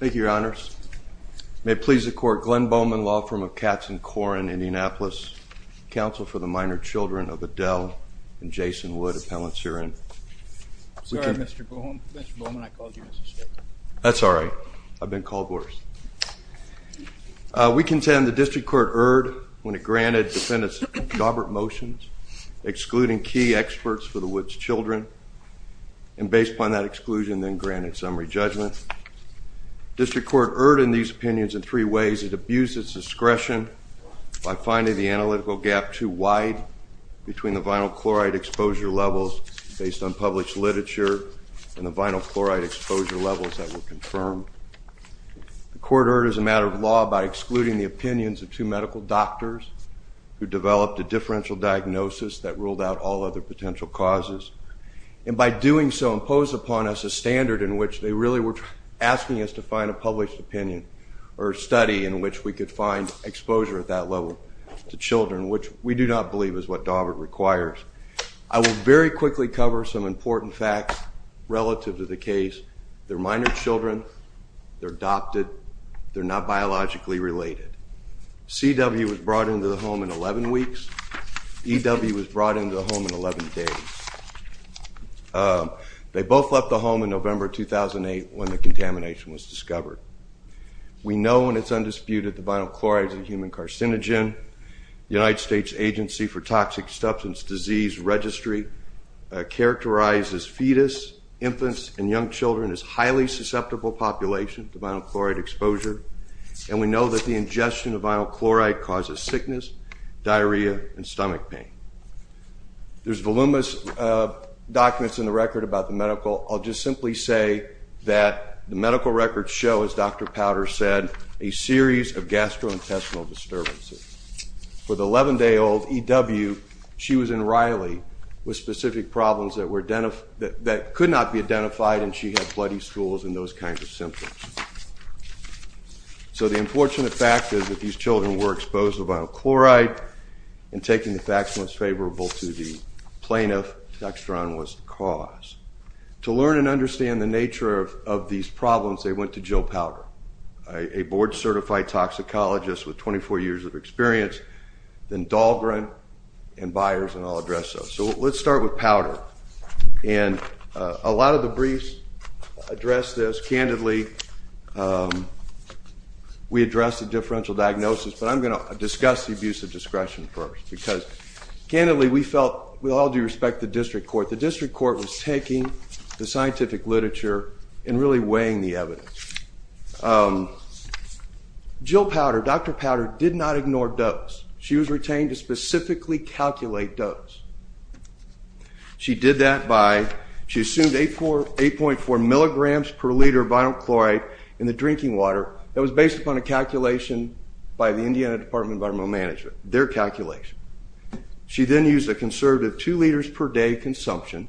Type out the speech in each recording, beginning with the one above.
Thank you, Your Honors. May it please the Court, Glenn Bowman, law firm of Katzen Korn, Indianapolis, counsel for the minor children of Adele and Jason Wood, appellants herein. Sorry, Mr. Bowman, I called you Mr. State. That's all right, I've been called worse. We contend the district court erred when it granted defendants jobber motions excluding key experts for the Woods children and based upon that exclusion then granted summary judgment. District Court erred in these opinions in three ways. It abused its discretion by finding the analytical gap too wide between the vinyl chloride exposure levels based on published literature and the vinyl chloride exposure levels that were confirmed. The court erred as a matter of law by excluding the opinions of two medical doctors who developed a differential diagnosis that ruled out all other potential causes and by doing so imposed upon us a standard in which they really were asking us to find a published opinion or study in which we could find exposure at that level to children which we do not believe is what Dawbert requires. I will very quickly cover some important facts relative to the case. They're minor children, they're adopted, they're not biologically related. C.W. was brought into the home in 11 weeks. E.W. was brought into the home in 11 days. They both left the home in November 2008 when the contamination was discovered. We know and it's undisputed the vinyl chloride is a human carcinogen. The United States Agency for Toxic Substance Disease Registry characterizes fetus, infants, and young children as highly susceptible population to vinyl chloride exposure and we know that the ingestion of vinyl There's voluminous documents in the record about the medical. I'll just simply say that the medical records show, as Dr. Powder said, a series of gastrointestinal disturbances. For the 11 day old E.W. she was in Riley with specific problems that could not be identified and she had bloody stools and those kinds of symptoms. So the unfortunate fact is that these children were exposed to vinyl chloride and taking the facts most the plaintiff, Dextran, was the cause. To learn and understand the nature of these problems they went to Jill Powder, a board-certified toxicologist with 24 years of experience, then Dahlgren and Byers and I'll address those. So let's start with Powder and a lot of the briefs address this. Candidly, we address the differential diagnosis but I'm going to discuss the abuse of discretion first because, candidly, we felt we all do respect the district court. The district court was taking the scientific literature and really weighing the evidence. Jill Powder, Dr. Powder, did not ignore dose. She was retained to specifically calculate dose. She did that by, she assumed 8.4 milligrams per liter of vinyl chloride in the drinking water that was based upon a calculation by the Indiana Department of Environmental Management, their calculation. She then used a conservative two liters per day consumption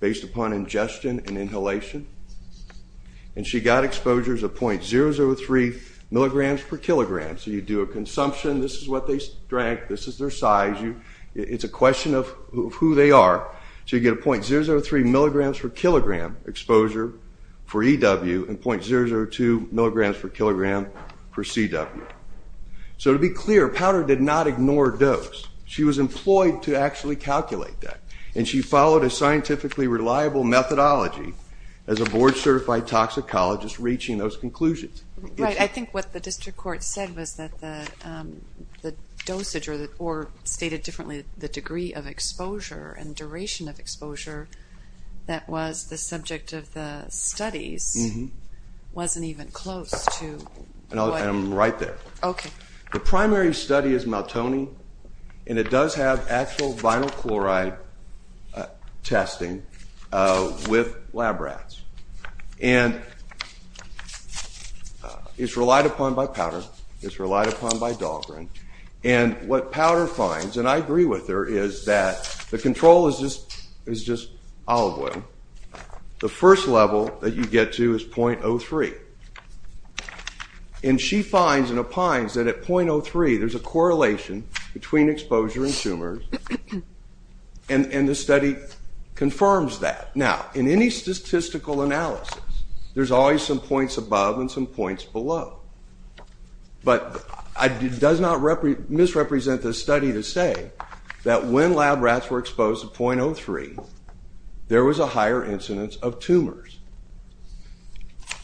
based upon ingestion and inhalation and she got exposures of .003 milligrams per kilogram. So you do a consumption, this is what they drank, this is their size, it's a question of who they are. So you get a .003 milligrams per kilogram exposure for EW and .002 milligrams per kilogram for CW. So to be clear, Powder did not ignore dose. She was employed to actually calculate that and she followed a scientifically reliable methodology as a board-certified toxicologist reaching those conclusions. Right, I think what the district court said was that the dosage, or stated differently, the degree of exposure and duration of exposure that was the subject of the studies wasn't even close to... I'm right there. Okay. The primary study is Maltoni and it does have actual vinyl chloride testing with lab rats and it's relied upon by Powder, it's relied upon by Dahlgren, and what Powder finds, and I agree with her, is that the control is just olive oil. The first level that you get to is .03 and she finds and opines that at .03 there's a correlation between exposure and tumors and the study confirms that. Now in any statistical analysis there's always some points above and some points below, but it does not misrepresent the study to say that when lab rats were exposed to .03, there was a higher incidence of tumors.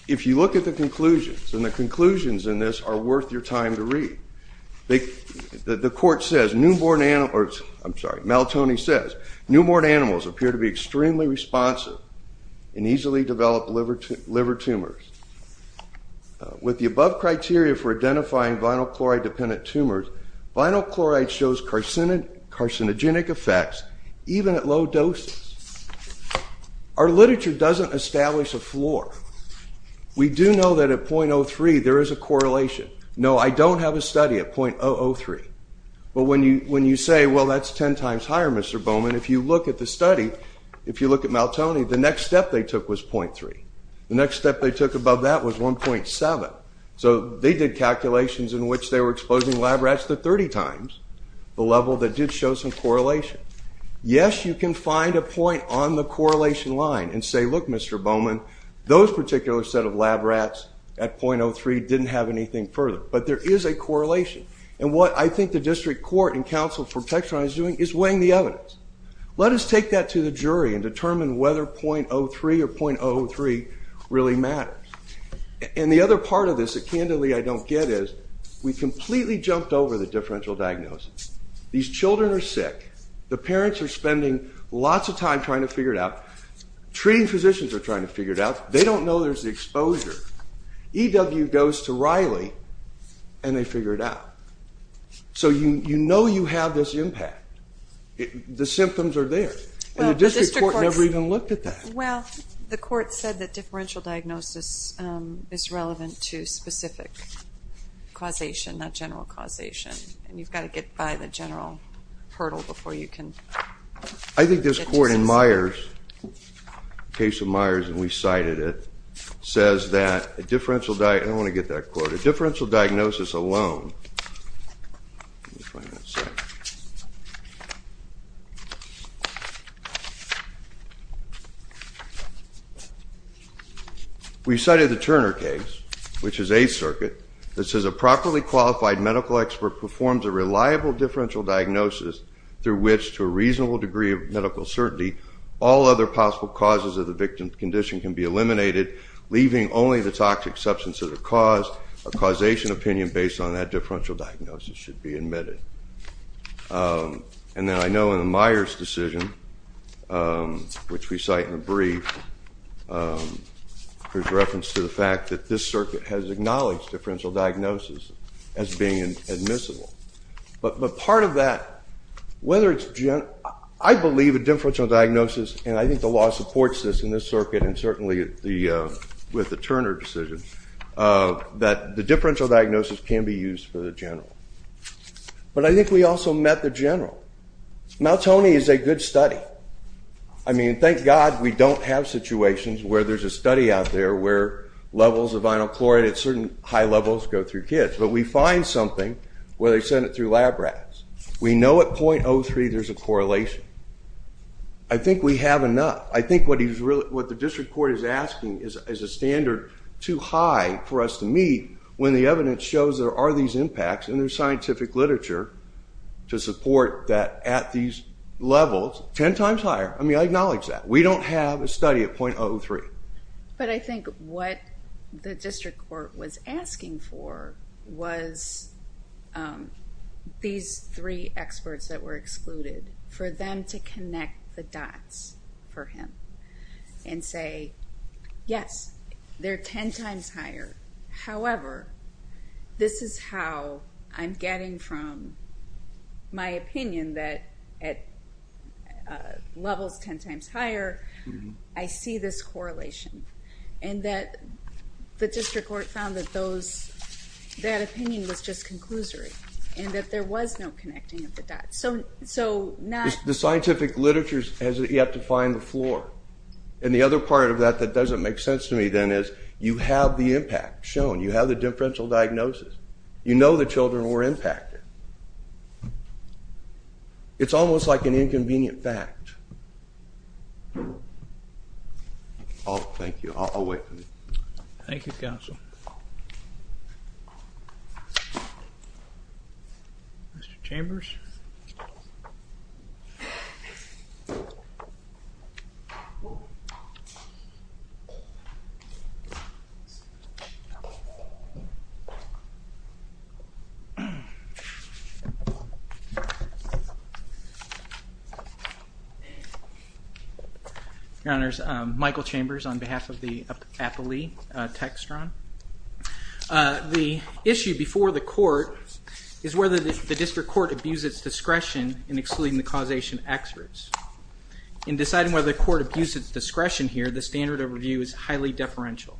If you look at the conclusions, and the conclusions in this are worth your time to read, the court says newborn animals, I'm sorry, Maltoni says newborn animals appear to be extremely responsive and easily develop liver tumors. With the above criteria for identifying vinyl chloride dependent tumors, vinyl chloride shows carcinogenic effects even at low doses. Our literature doesn't establish a floor. We do know that at .03 there is a correlation. No, I don't have a study at .003, but when you say well that's ten times higher Mr. Bowman, if you look at the study, if you look at Maltoni, the next step they took was .3. The next step they took above that was 1.7, so they did calculations in which they were exposing lab rats to 30 times, the level that did show some correlation. Yes, you can find a point on the correlation line and say look Mr. Bowman, those particular set of lab rats at .03 didn't have anything further, but there is a correlation, and what I think the District Court and Council for Textron is doing is weighing the evidence. Let us take that to the jury and determine whether .03 or .003 really matters, and the other part of this that candidly I don't get is we completely jumped over the differential diagnosis. These children are sick. The parents are spending lots of time trying to figure it out. Treating physicians are trying to figure it out. They don't know there's the exposure. EW goes to Riley and they figure it out, so you know you have this impact. The symptoms are there, and the District Court never even looked at that. Well, the court said that differential diagnosis is relevant to specific causation, not general causation, and you've got to get by the general hurdle before you can. I think this court in Myers, case of Myers, and we cited it, says that a differential diagnosis, I don't want to get that quote, a differential diagnosis. We cited the Turner case, which is a circuit, that says a properly qualified medical expert performs a reliable differential diagnosis through which, to a reasonable degree of medical certainty, all other possible causes of the victim's condition can be eliminated, leaving only the toxic substance of the cause. A causation opinion based on that differential diagnosis should be admitted, and then I know in the Myers decision, which we cite in a brief, there's reference to the fact that this circuit has acknowledged differential diagnosis as being admissible, but part of that, whether it's general, I believe a differential diagnosis, and I think the law supports this in this circuit and certainly with the Turner decision, that the differential diagnosis can be used for the general, but I think we also met the general. Maltoni is a good study. I mean, thank God we don't have situations where there's a study out there where levels of vinyl chloride at certain high levels go through kids, but we find something where they send it through lab rats. We know at 0.03 there's a correlation. I think we have enough. I think what the district court is asking is a standard too high for us to meet when the impacts in their scientific literature to support that at these levels, ten times higher. I mean, I acknowledge that. We don't have a study at 0.03. But I think what the district court was asking for was these three experts that were excluded, for them to connect the dots for him and say, yes, they're ten times higher. However, this is how I'm getting from my opinion that at levels ten times higher, I see this correlation, and that the district court found that those, that opinion was just conclusory and that there was no connecting of the dots. So not... The scientific literature has yet to find the floor, and the other part of that that doesn't make sense to me then is you have the impact shown. You have the differential diagnosis. You know the children were impacted. It's almost like an inconvenient fact. Oh, thank you. I'll wait. Thank you, counsel. Mr. Chambers? Your Honors, Michael Chambers on behalf of the Appellee Textron. The issue before the court is whether the district court abused its discretion in excluding the causation experts. In deciding whether the court abused its discretion here, the standard of review is highly deferential,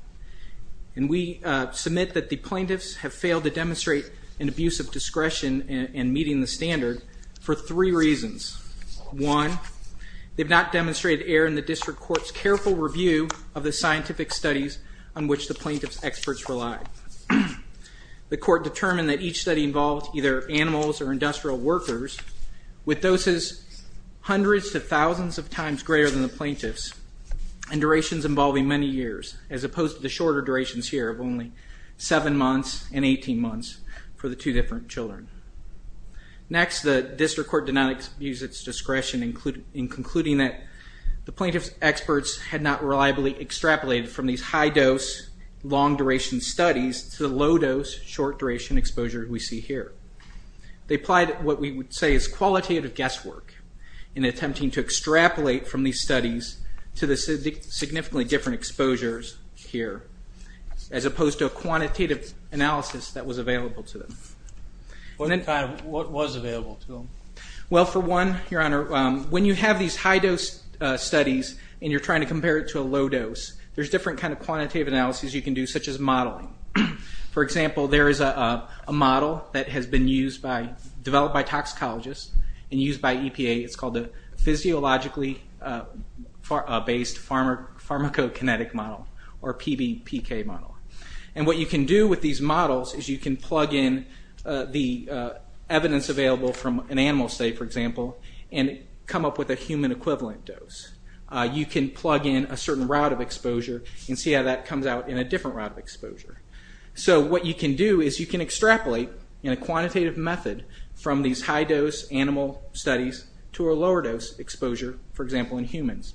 and we submit that the plaintiffs have failed to demonstrate an abuse of discretion in meeting the standard for three reasons. One, they've not demonstrated error in the district court's careful review of the scientific studies on which the plaintiff's experts relied. The court determined that each study involved either animals or industrial workers with doses hundreds to thousands of times greater than the duration involving many years, as opposed to the shorter durations here of only seven months and 18 months for the two different children. Next, the district court did not abuse its discretion in concluding that the plaintiff's experts had not reliably extrapolated from these high-dose, long-duration studies to the low-dose, short-duration exposure we see here. They applied what we would say is qualitative guesswork in attempting to extrapolate from these significantly different exposures here, as opposed to a quantitative analysis that was available to them. What was available to them? Well, for one, Your Honor, when you have these high-dose studies and you're trying to compare it to a low-dose, there's different kind of quantitative analyses you can do, such as modeling. For example, there is a model that has been used by, developed by toxicologists, and it's a pharmacokinetic model, or PBPK model. And what you can do with these models is you can plug in the evidence available from an animal, say, for example, and come up with a human equivalent dose. You can plug in a certain route of exposure and see how that comes out in a different route of exposure. So what you can do is you can extrapolate in a quantitative method from these high-dose animal studies to a quantitative analysis.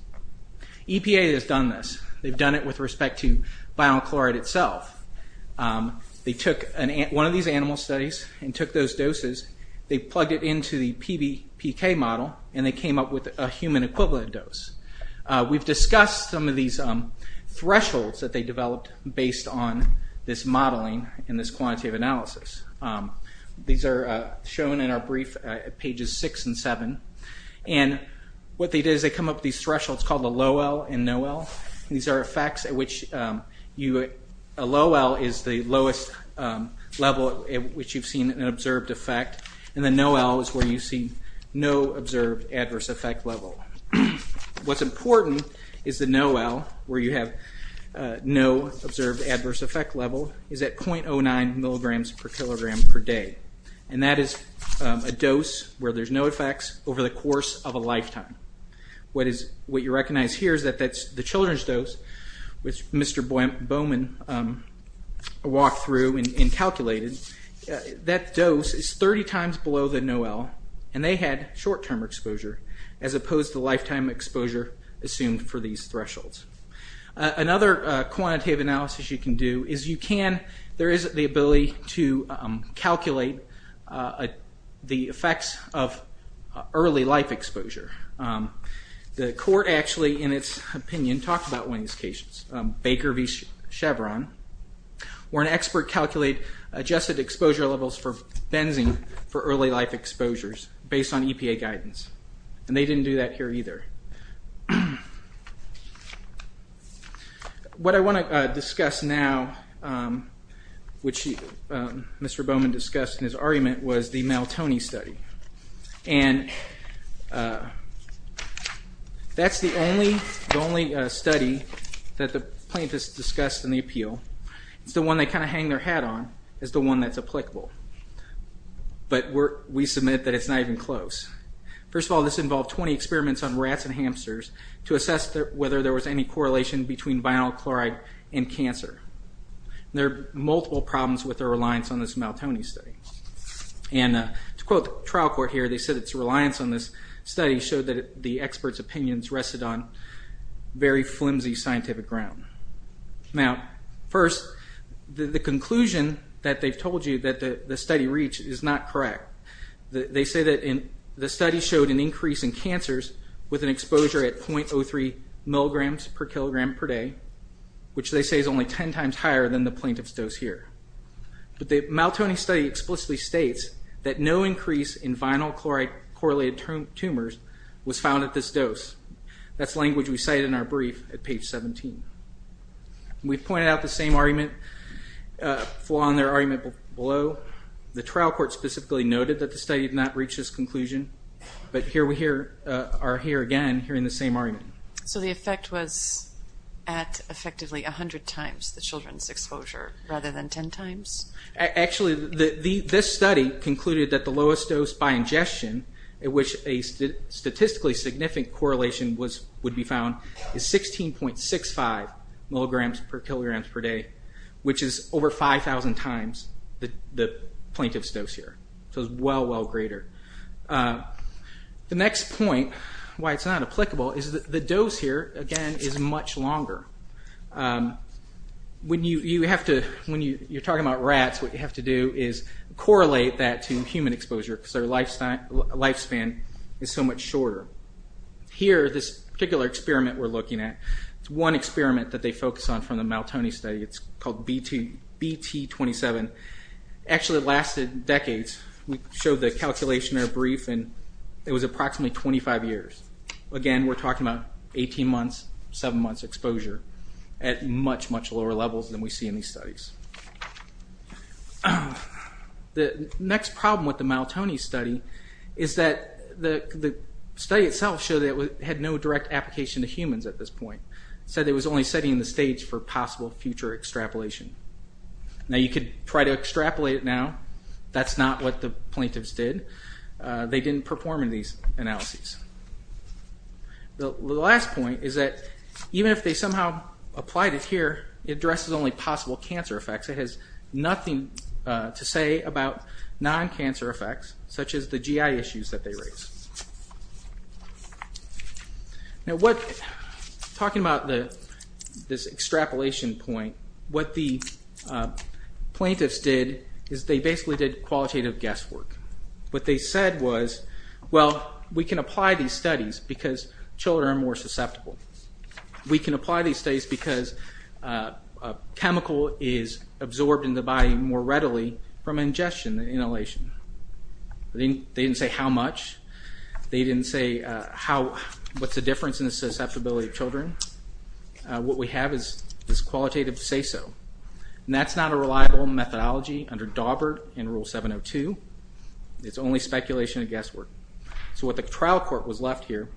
They've done it with respect to bionic chloride itself. They took one of these animal studies and took those doses, they plugged it into the PBPK model, and they came up with a human equivalent dose. We've discussed some of these thresholds that they developed based on this modeling and this quantitative analysis. These are shown in our brief at pages 6 and 7. And what they did is they come up with these thresholds called the low-L and no-L. These are effects at which a low-L is the lowest level at which you've seen an observed effect, and the no-L is where you see no observed adverse effect level. What's important is the no-L, where you have no observed adverse effect level, is at 0.09 milligrams per kilogram per day. And that is a dose where there's no effects over the course of a lifetime. What you recognize here is that that's the children's dose, which Mr. Bowman walked through and calculated. That dose is 30 times below the no-L, and they had short-term exposure as opposed to lifetime exposure assumed for these thresholds. Another quantitative analysis you can do is you can, there is the ability to calculate the effects of early life exposure. The court actually, in its opinion, talked about one of these cases, Baker v. Chevron, where an expert calculated adjusted exposure levels for benzene for early life exposures based on EPA guidance. And they didn't do that here either. What I want to discuss now, which Mr. Bowman discussed in his argument, was the Maltoni study. And that's the only study that the plaintiffs discussed in the appeal. It's the one they kind of hang their hat on as the one that's applicable. But we submit that it's not even close. First of all, this involved 20 experiments on rats and hamsters to assess whether there was any correlation between vinyl chloride and cancer. There are multiple problems with their reliance on this Maltoni study. And to quote the trial court here, they said its reliance on this study showed that the expert's opinions rested on very flimsy scientific ground. Now, first, the conclusion that they've told you that the study reached is not with an exposure at .03 milligrams per kilogram per day, which they say is only 10 times higher than the plaintiff's dose here. But the Maltoni study explicitly states that no increase in vinyl chloride correlated tumors was found at this dose. That's language we cite in our brief at page 17. We've pointed out the same argument, flaw in their argument below. The trial court specifically noted that the study did not reach this conclusion. But here we are again, hearing the same argument. So the effect was at effectively 100 times the children's exposure, rather than 10 times? Actually, this study concluded that the lowest dose by ingestion, at which a statistically significant correlation would be found, is 16.65 milligrams per kilogram per day, which is over 5,000 times the plaintiff's dose here. So it's well, well greater. The next point, why it's not applicable, is that the dose here, again, is much longer. When you have to, when you're talking about rats, what you have to do is correlate that to human exposure, because their lifespan is so much shorter. Here, this particular experiment we're looking at, it's one experiment that they focus on from the Maltoni study. It's called BT27. Actually, it lasted decades. We showed the calculation in our brief, and it was approximately 25 years. Again, we're talking about 18 months, seven months exposure, at much, much lower levels than we see in these studies. The next problem with the Maltoni study is that the study itself showed that it had no direct application to humans at this point. It said it was only setting the stage for possible future extrapolation. Now, you could try to extrapolate it now. That's not what the plaintiffs did. They didn't perform in these analyses. The last point is that even if they somehow applied it here, it addresses only possible cancer effects. It has nothing to say about non- this extrapolation point. What the plaintiffs did is they basically did qualitative guesswork. What they said was, well, we can apply these studies because children are more susceptible. We can apply these studies because a chemical is absorbed in the body more readily from ingestion than inhalation. They didn't say how much. They didn't say what's the difference in the susceptibility of what we have is this qualitative say-so. That's not a reliable methodology under Dawbert and Rule 702. It's only speculation and guesswork. So what the trial court was left here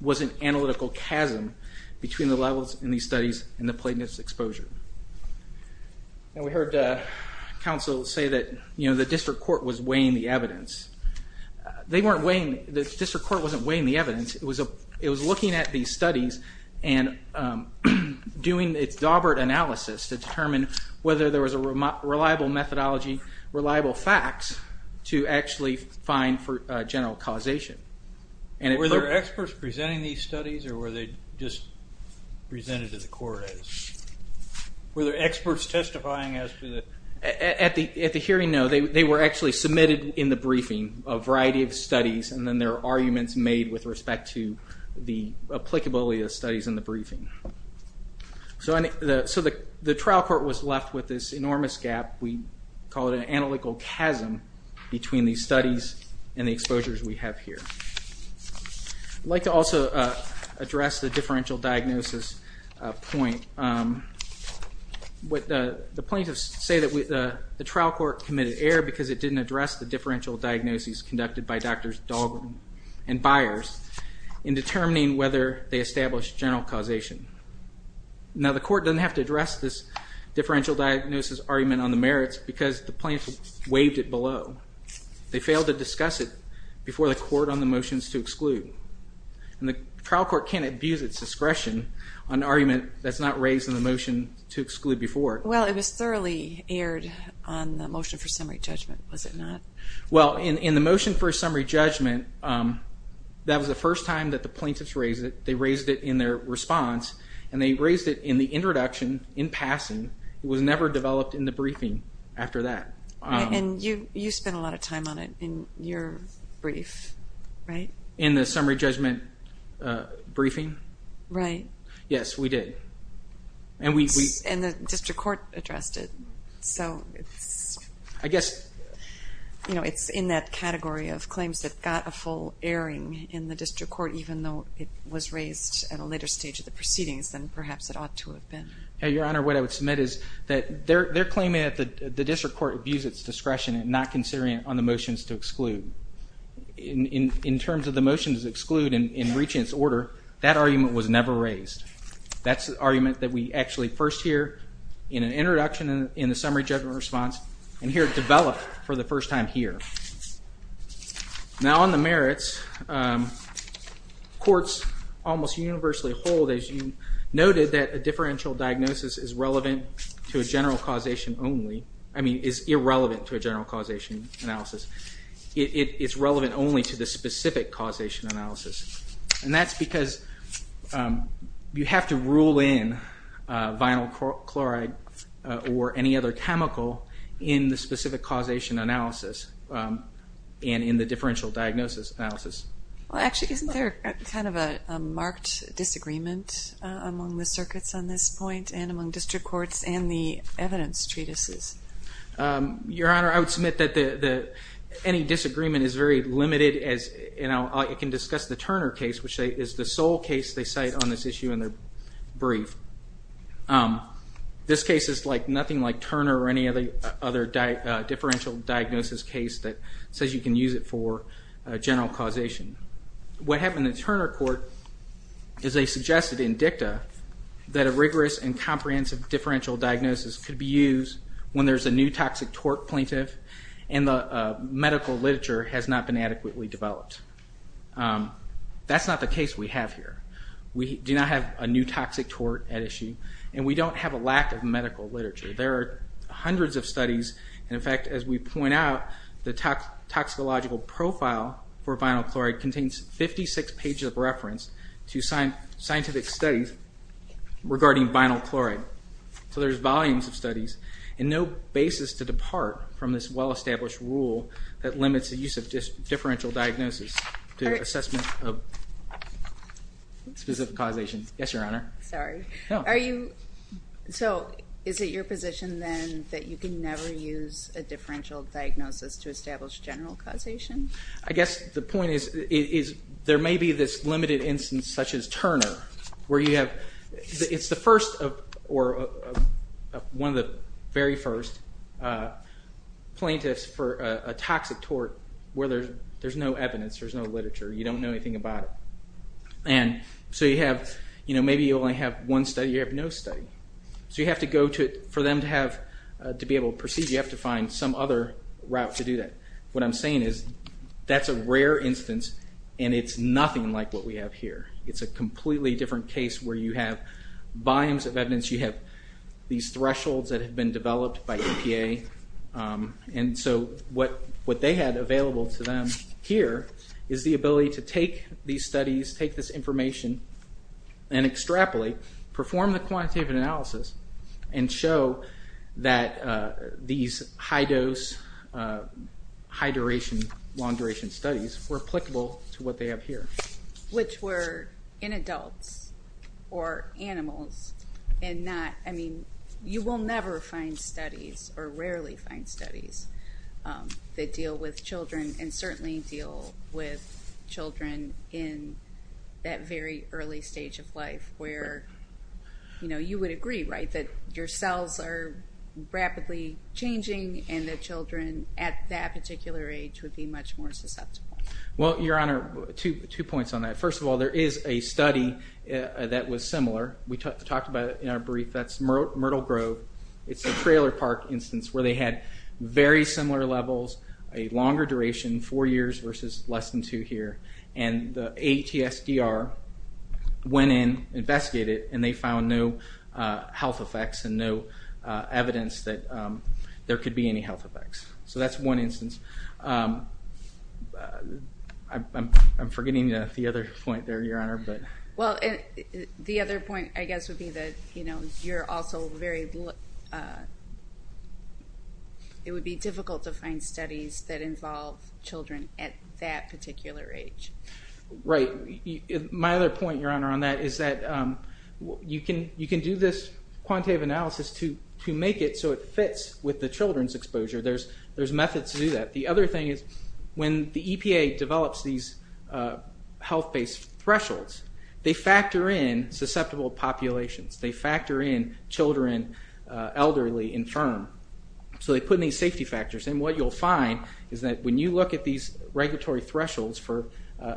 was an analytical chasm between the levels in these studies and the plaintiffs' exposure. Now we heard counsel say that, you know, the district court was weighing the evidence. They weren't weighing- the district court wasn't weighing the evidence. It was looking at these doing its Dawbert analysis to determine whether there was a reliable methodology, reliable facts, to actually find for general causation. Were there experts presenting these studies or were they just presented to the court? Were there experts testifying as to the- At the hearing, no. They were actually submitted in the briefing a variety of studies and then their arguments made with respect to the applicability of studies in the briefing. So the trial court was left with this enormous gap. We call it an analytical chasm between these studies and the exposures we have here. I'd like to also address the differential diagnosis point. The plaintiffs say that the trial court committed error because it didn't address the differential diagnoses conducted by Drs. Dahlgren and Byers in determining whether they established general causation. Now the court doesn't have to address this differential diagnosis argument on the merits because the plaintiffs waived it below. They failed to discuss it before the court on the motions to exclude. And the trial court can't abuse its discretion on an argument that's not raised in the motion to exclude before. Well it was thoroughly aired on the motion for summary judgment, was it not? Well in the motion for summary judgment, that was the first time that the plaintiffs raised it. They raised it in their response and they raised it in the introduction, in passing. It was never developed in the briefing after that. And you spent a lot of time on it in your brief, right? In the summary judgment briefing? Right. Yes, we did. And the district court addressed it. So I guess, you know, it's in that category of claims that got a full airing in the district court even though it was raised at a later stage of the proceedings than perhaps it ought to have been. Your Honor, what I would submit is that they're claiming that the district court abused its discretion and not considering it on the motions to exclude. In terms of the motions to exclude and reaching its order, that argument was never raised. That's the argument that we actually first hear in an introduction in the summary judgment response and hear it developed for the first time here. Now on the merits, courts almost universally hold, as you noted, that a differential diagnosis is relevant to a general causation only. I mean, is irrelevant to a general causation analysis. It's relevant only to the specific causation analysis. And that's because you have to rule in vinyl chloride or any other chemical in the specific causation analysis and in the differential diagnosis analysis. Well actually, isn't there kind of a marked disagreement among the circuits on this point and among district courts and the evidence treatises? Your Honor, I would submit that any disagreement is very limited as, you know, you can discuss the sole case they cite on this issue in their brief. This case is like nothing like Turner or any of the other differential diagnosis case that says you can use it for general causation. What happened in Turner court is they suggested in dicta that a rigorous and comprehensive differential diagnosis could be used when there's a new toxic torque plaintiff and the medical literature has not been adequately developed. That's not the case we have here. We do not have a new toxic torque at issue and we don't have a lack of medical literature. There are hundreds of studies and in fact, as we point out, the toxicological profile for vinyl chloride contains 56 pages of reference to scientific studies regarding vinyl chloride. So there's volumes of use of differential diagnosis to assessment of specific causation. Yes, Your Honor. Sorry. Are you, so is it your position then that you can never use a differential diagnosis to establish general causation? I guess the point is there may be this limited instance such as Turner where you have, it's the where there's no evidence, there's no literature, you don't know anything about it. And so you have, you know, maybe you only have one study, you have no study. So you have to go to, for them to have, to be able to proceed, you have to find some other route to do that. What I'm saying is that's a rare instance and it's nothing like what we have here. It's a completely different case where you have volumes of evidence, you have these thresholds that have been developed by available to them. Here is the ability to take these studies, take this information and extrapolate, perform the quantitative analysis and show that these high dose, high duration, long duration studies were applicable to what they have here. Which were in adults or animals and not, I mean, you will never find studies or rarely find studies that deal with children and certainly deal with children in that very early stage of life where, you know, you would agree, right, that your cells are rapidly changing and the children at that particular age would be much more susceptible. Well, Your Honor, two points on that. First of all, there is a study that was similar. We talked about it in our brief. That's Myrtle Grove. It's a trailer park instance where they had very similar levels, a longer duration, four years versus less than two here. And the ATSDR went in, investigated and they found no health effects and no evidence that there could be any health effects. So that's one instance. I'm forgetting the other point there, Your Honor. Well, the other point, I guess, would be that, you know, you're also very, it would be difficult to find studies that involve children at that particular age. Right. My other point, Your Honor, on that is that you can do this quantitative analysis to make it so it fits with the children's exposure. There's methods to do that. The other thing is when the EPA develops these health-based thresholds, they factor in children, elderly, infirm. So they put in these safety factors and what you'll find is that when you look at these regulatory thresholds for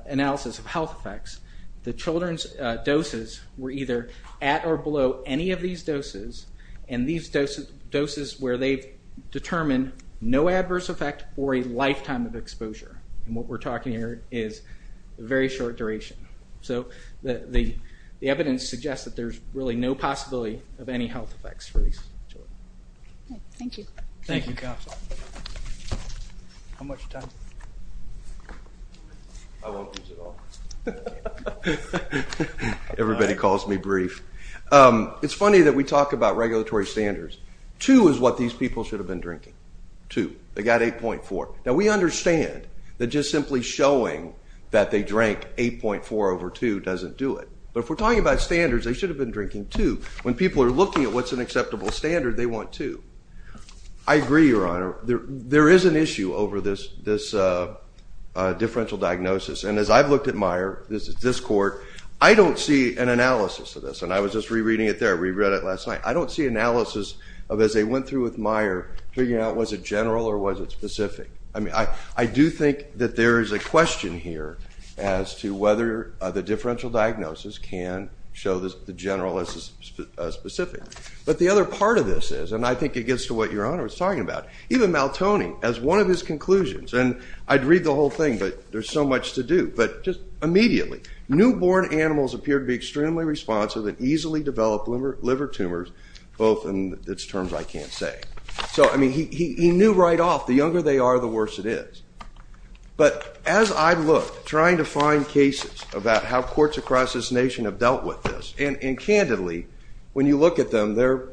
analysis of health effects, the children's doses were either at or below any of these doses and these doses where they've determined no adverse effect or a lifetime of exposure. And what we're talking here is a very short duration. So the possibility of any health effects for these children. Thank you. Thank you, counsel. How much time? I won't use it all. Everybody calls me brief. It's funny that we talk about regulatory standards. Two is what these people should have been drinking. Two. They got 8.4. Now we understand that just simply showing that they drank 8.4 over two doesn't do it. But if we're talking about standards, they should have been drinking two. When people are looking at what's an acceptable standard, they want two. I agree, Your Honor. There is an issue over this differential diagnosis. And as I've looked at Meyer, this court, I don't see an analysis of this. And I was just rereading it there. I reread it last night. I don't see analysis of as they went through with Meyer figuring out was it general or was it specific. I mean, I do think that there is a question here as to whether the differential diagnosis can show the general as specific. But the other part of this is, and I think it gets to what Your Honor was talking about, even Maltoni, as one of his conclusions, and I'd read the whole thing but there's so much to do, but just immediately. Newborn animals appear to be extremely responsive and easily develop liver tumors, both in terms I can't say. So I mean, he knew right off. The younger they are, the worse it is. But as I look, trying to about how courts across this nation have dealt with this, and candidly, when you look at them, they're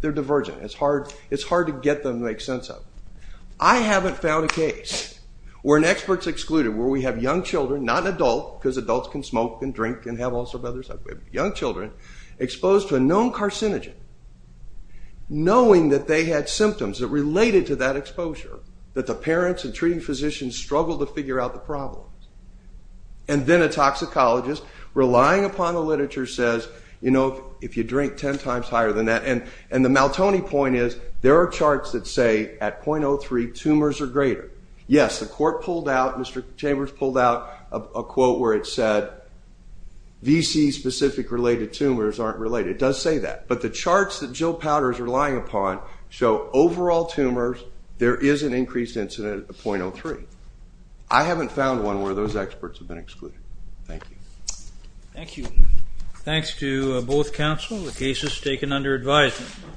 divergent. It's hard to get them to make sense of. I haven't found a case where an expert's excluded, where we have young children, not an adult, because adults can smoke and drink and have all sorts of other stuff, young children exposed to a known carcinogen, knowing that they had symptoms that related to that exposure, that the parents and treating physicians struggled to figure out the problem. And then a toxicologist, relying upon the literature, says, you know, if you drink 10 times higher than that, and the Maltoni point is, there are charts that say at 0.03 tumors are greater. Yes, the court pulled out, Mr. Chambers pulled out a quote where it said, VC-specific related tumors aren't related. It does say that, but the charts that Jill Powders is relying upon show overall tumors, there is an increased incident at 0.03. I haven't found one where those experts have been excluded. Thank you. Thank you. Thanks to both counsel. The case is taken under advisement.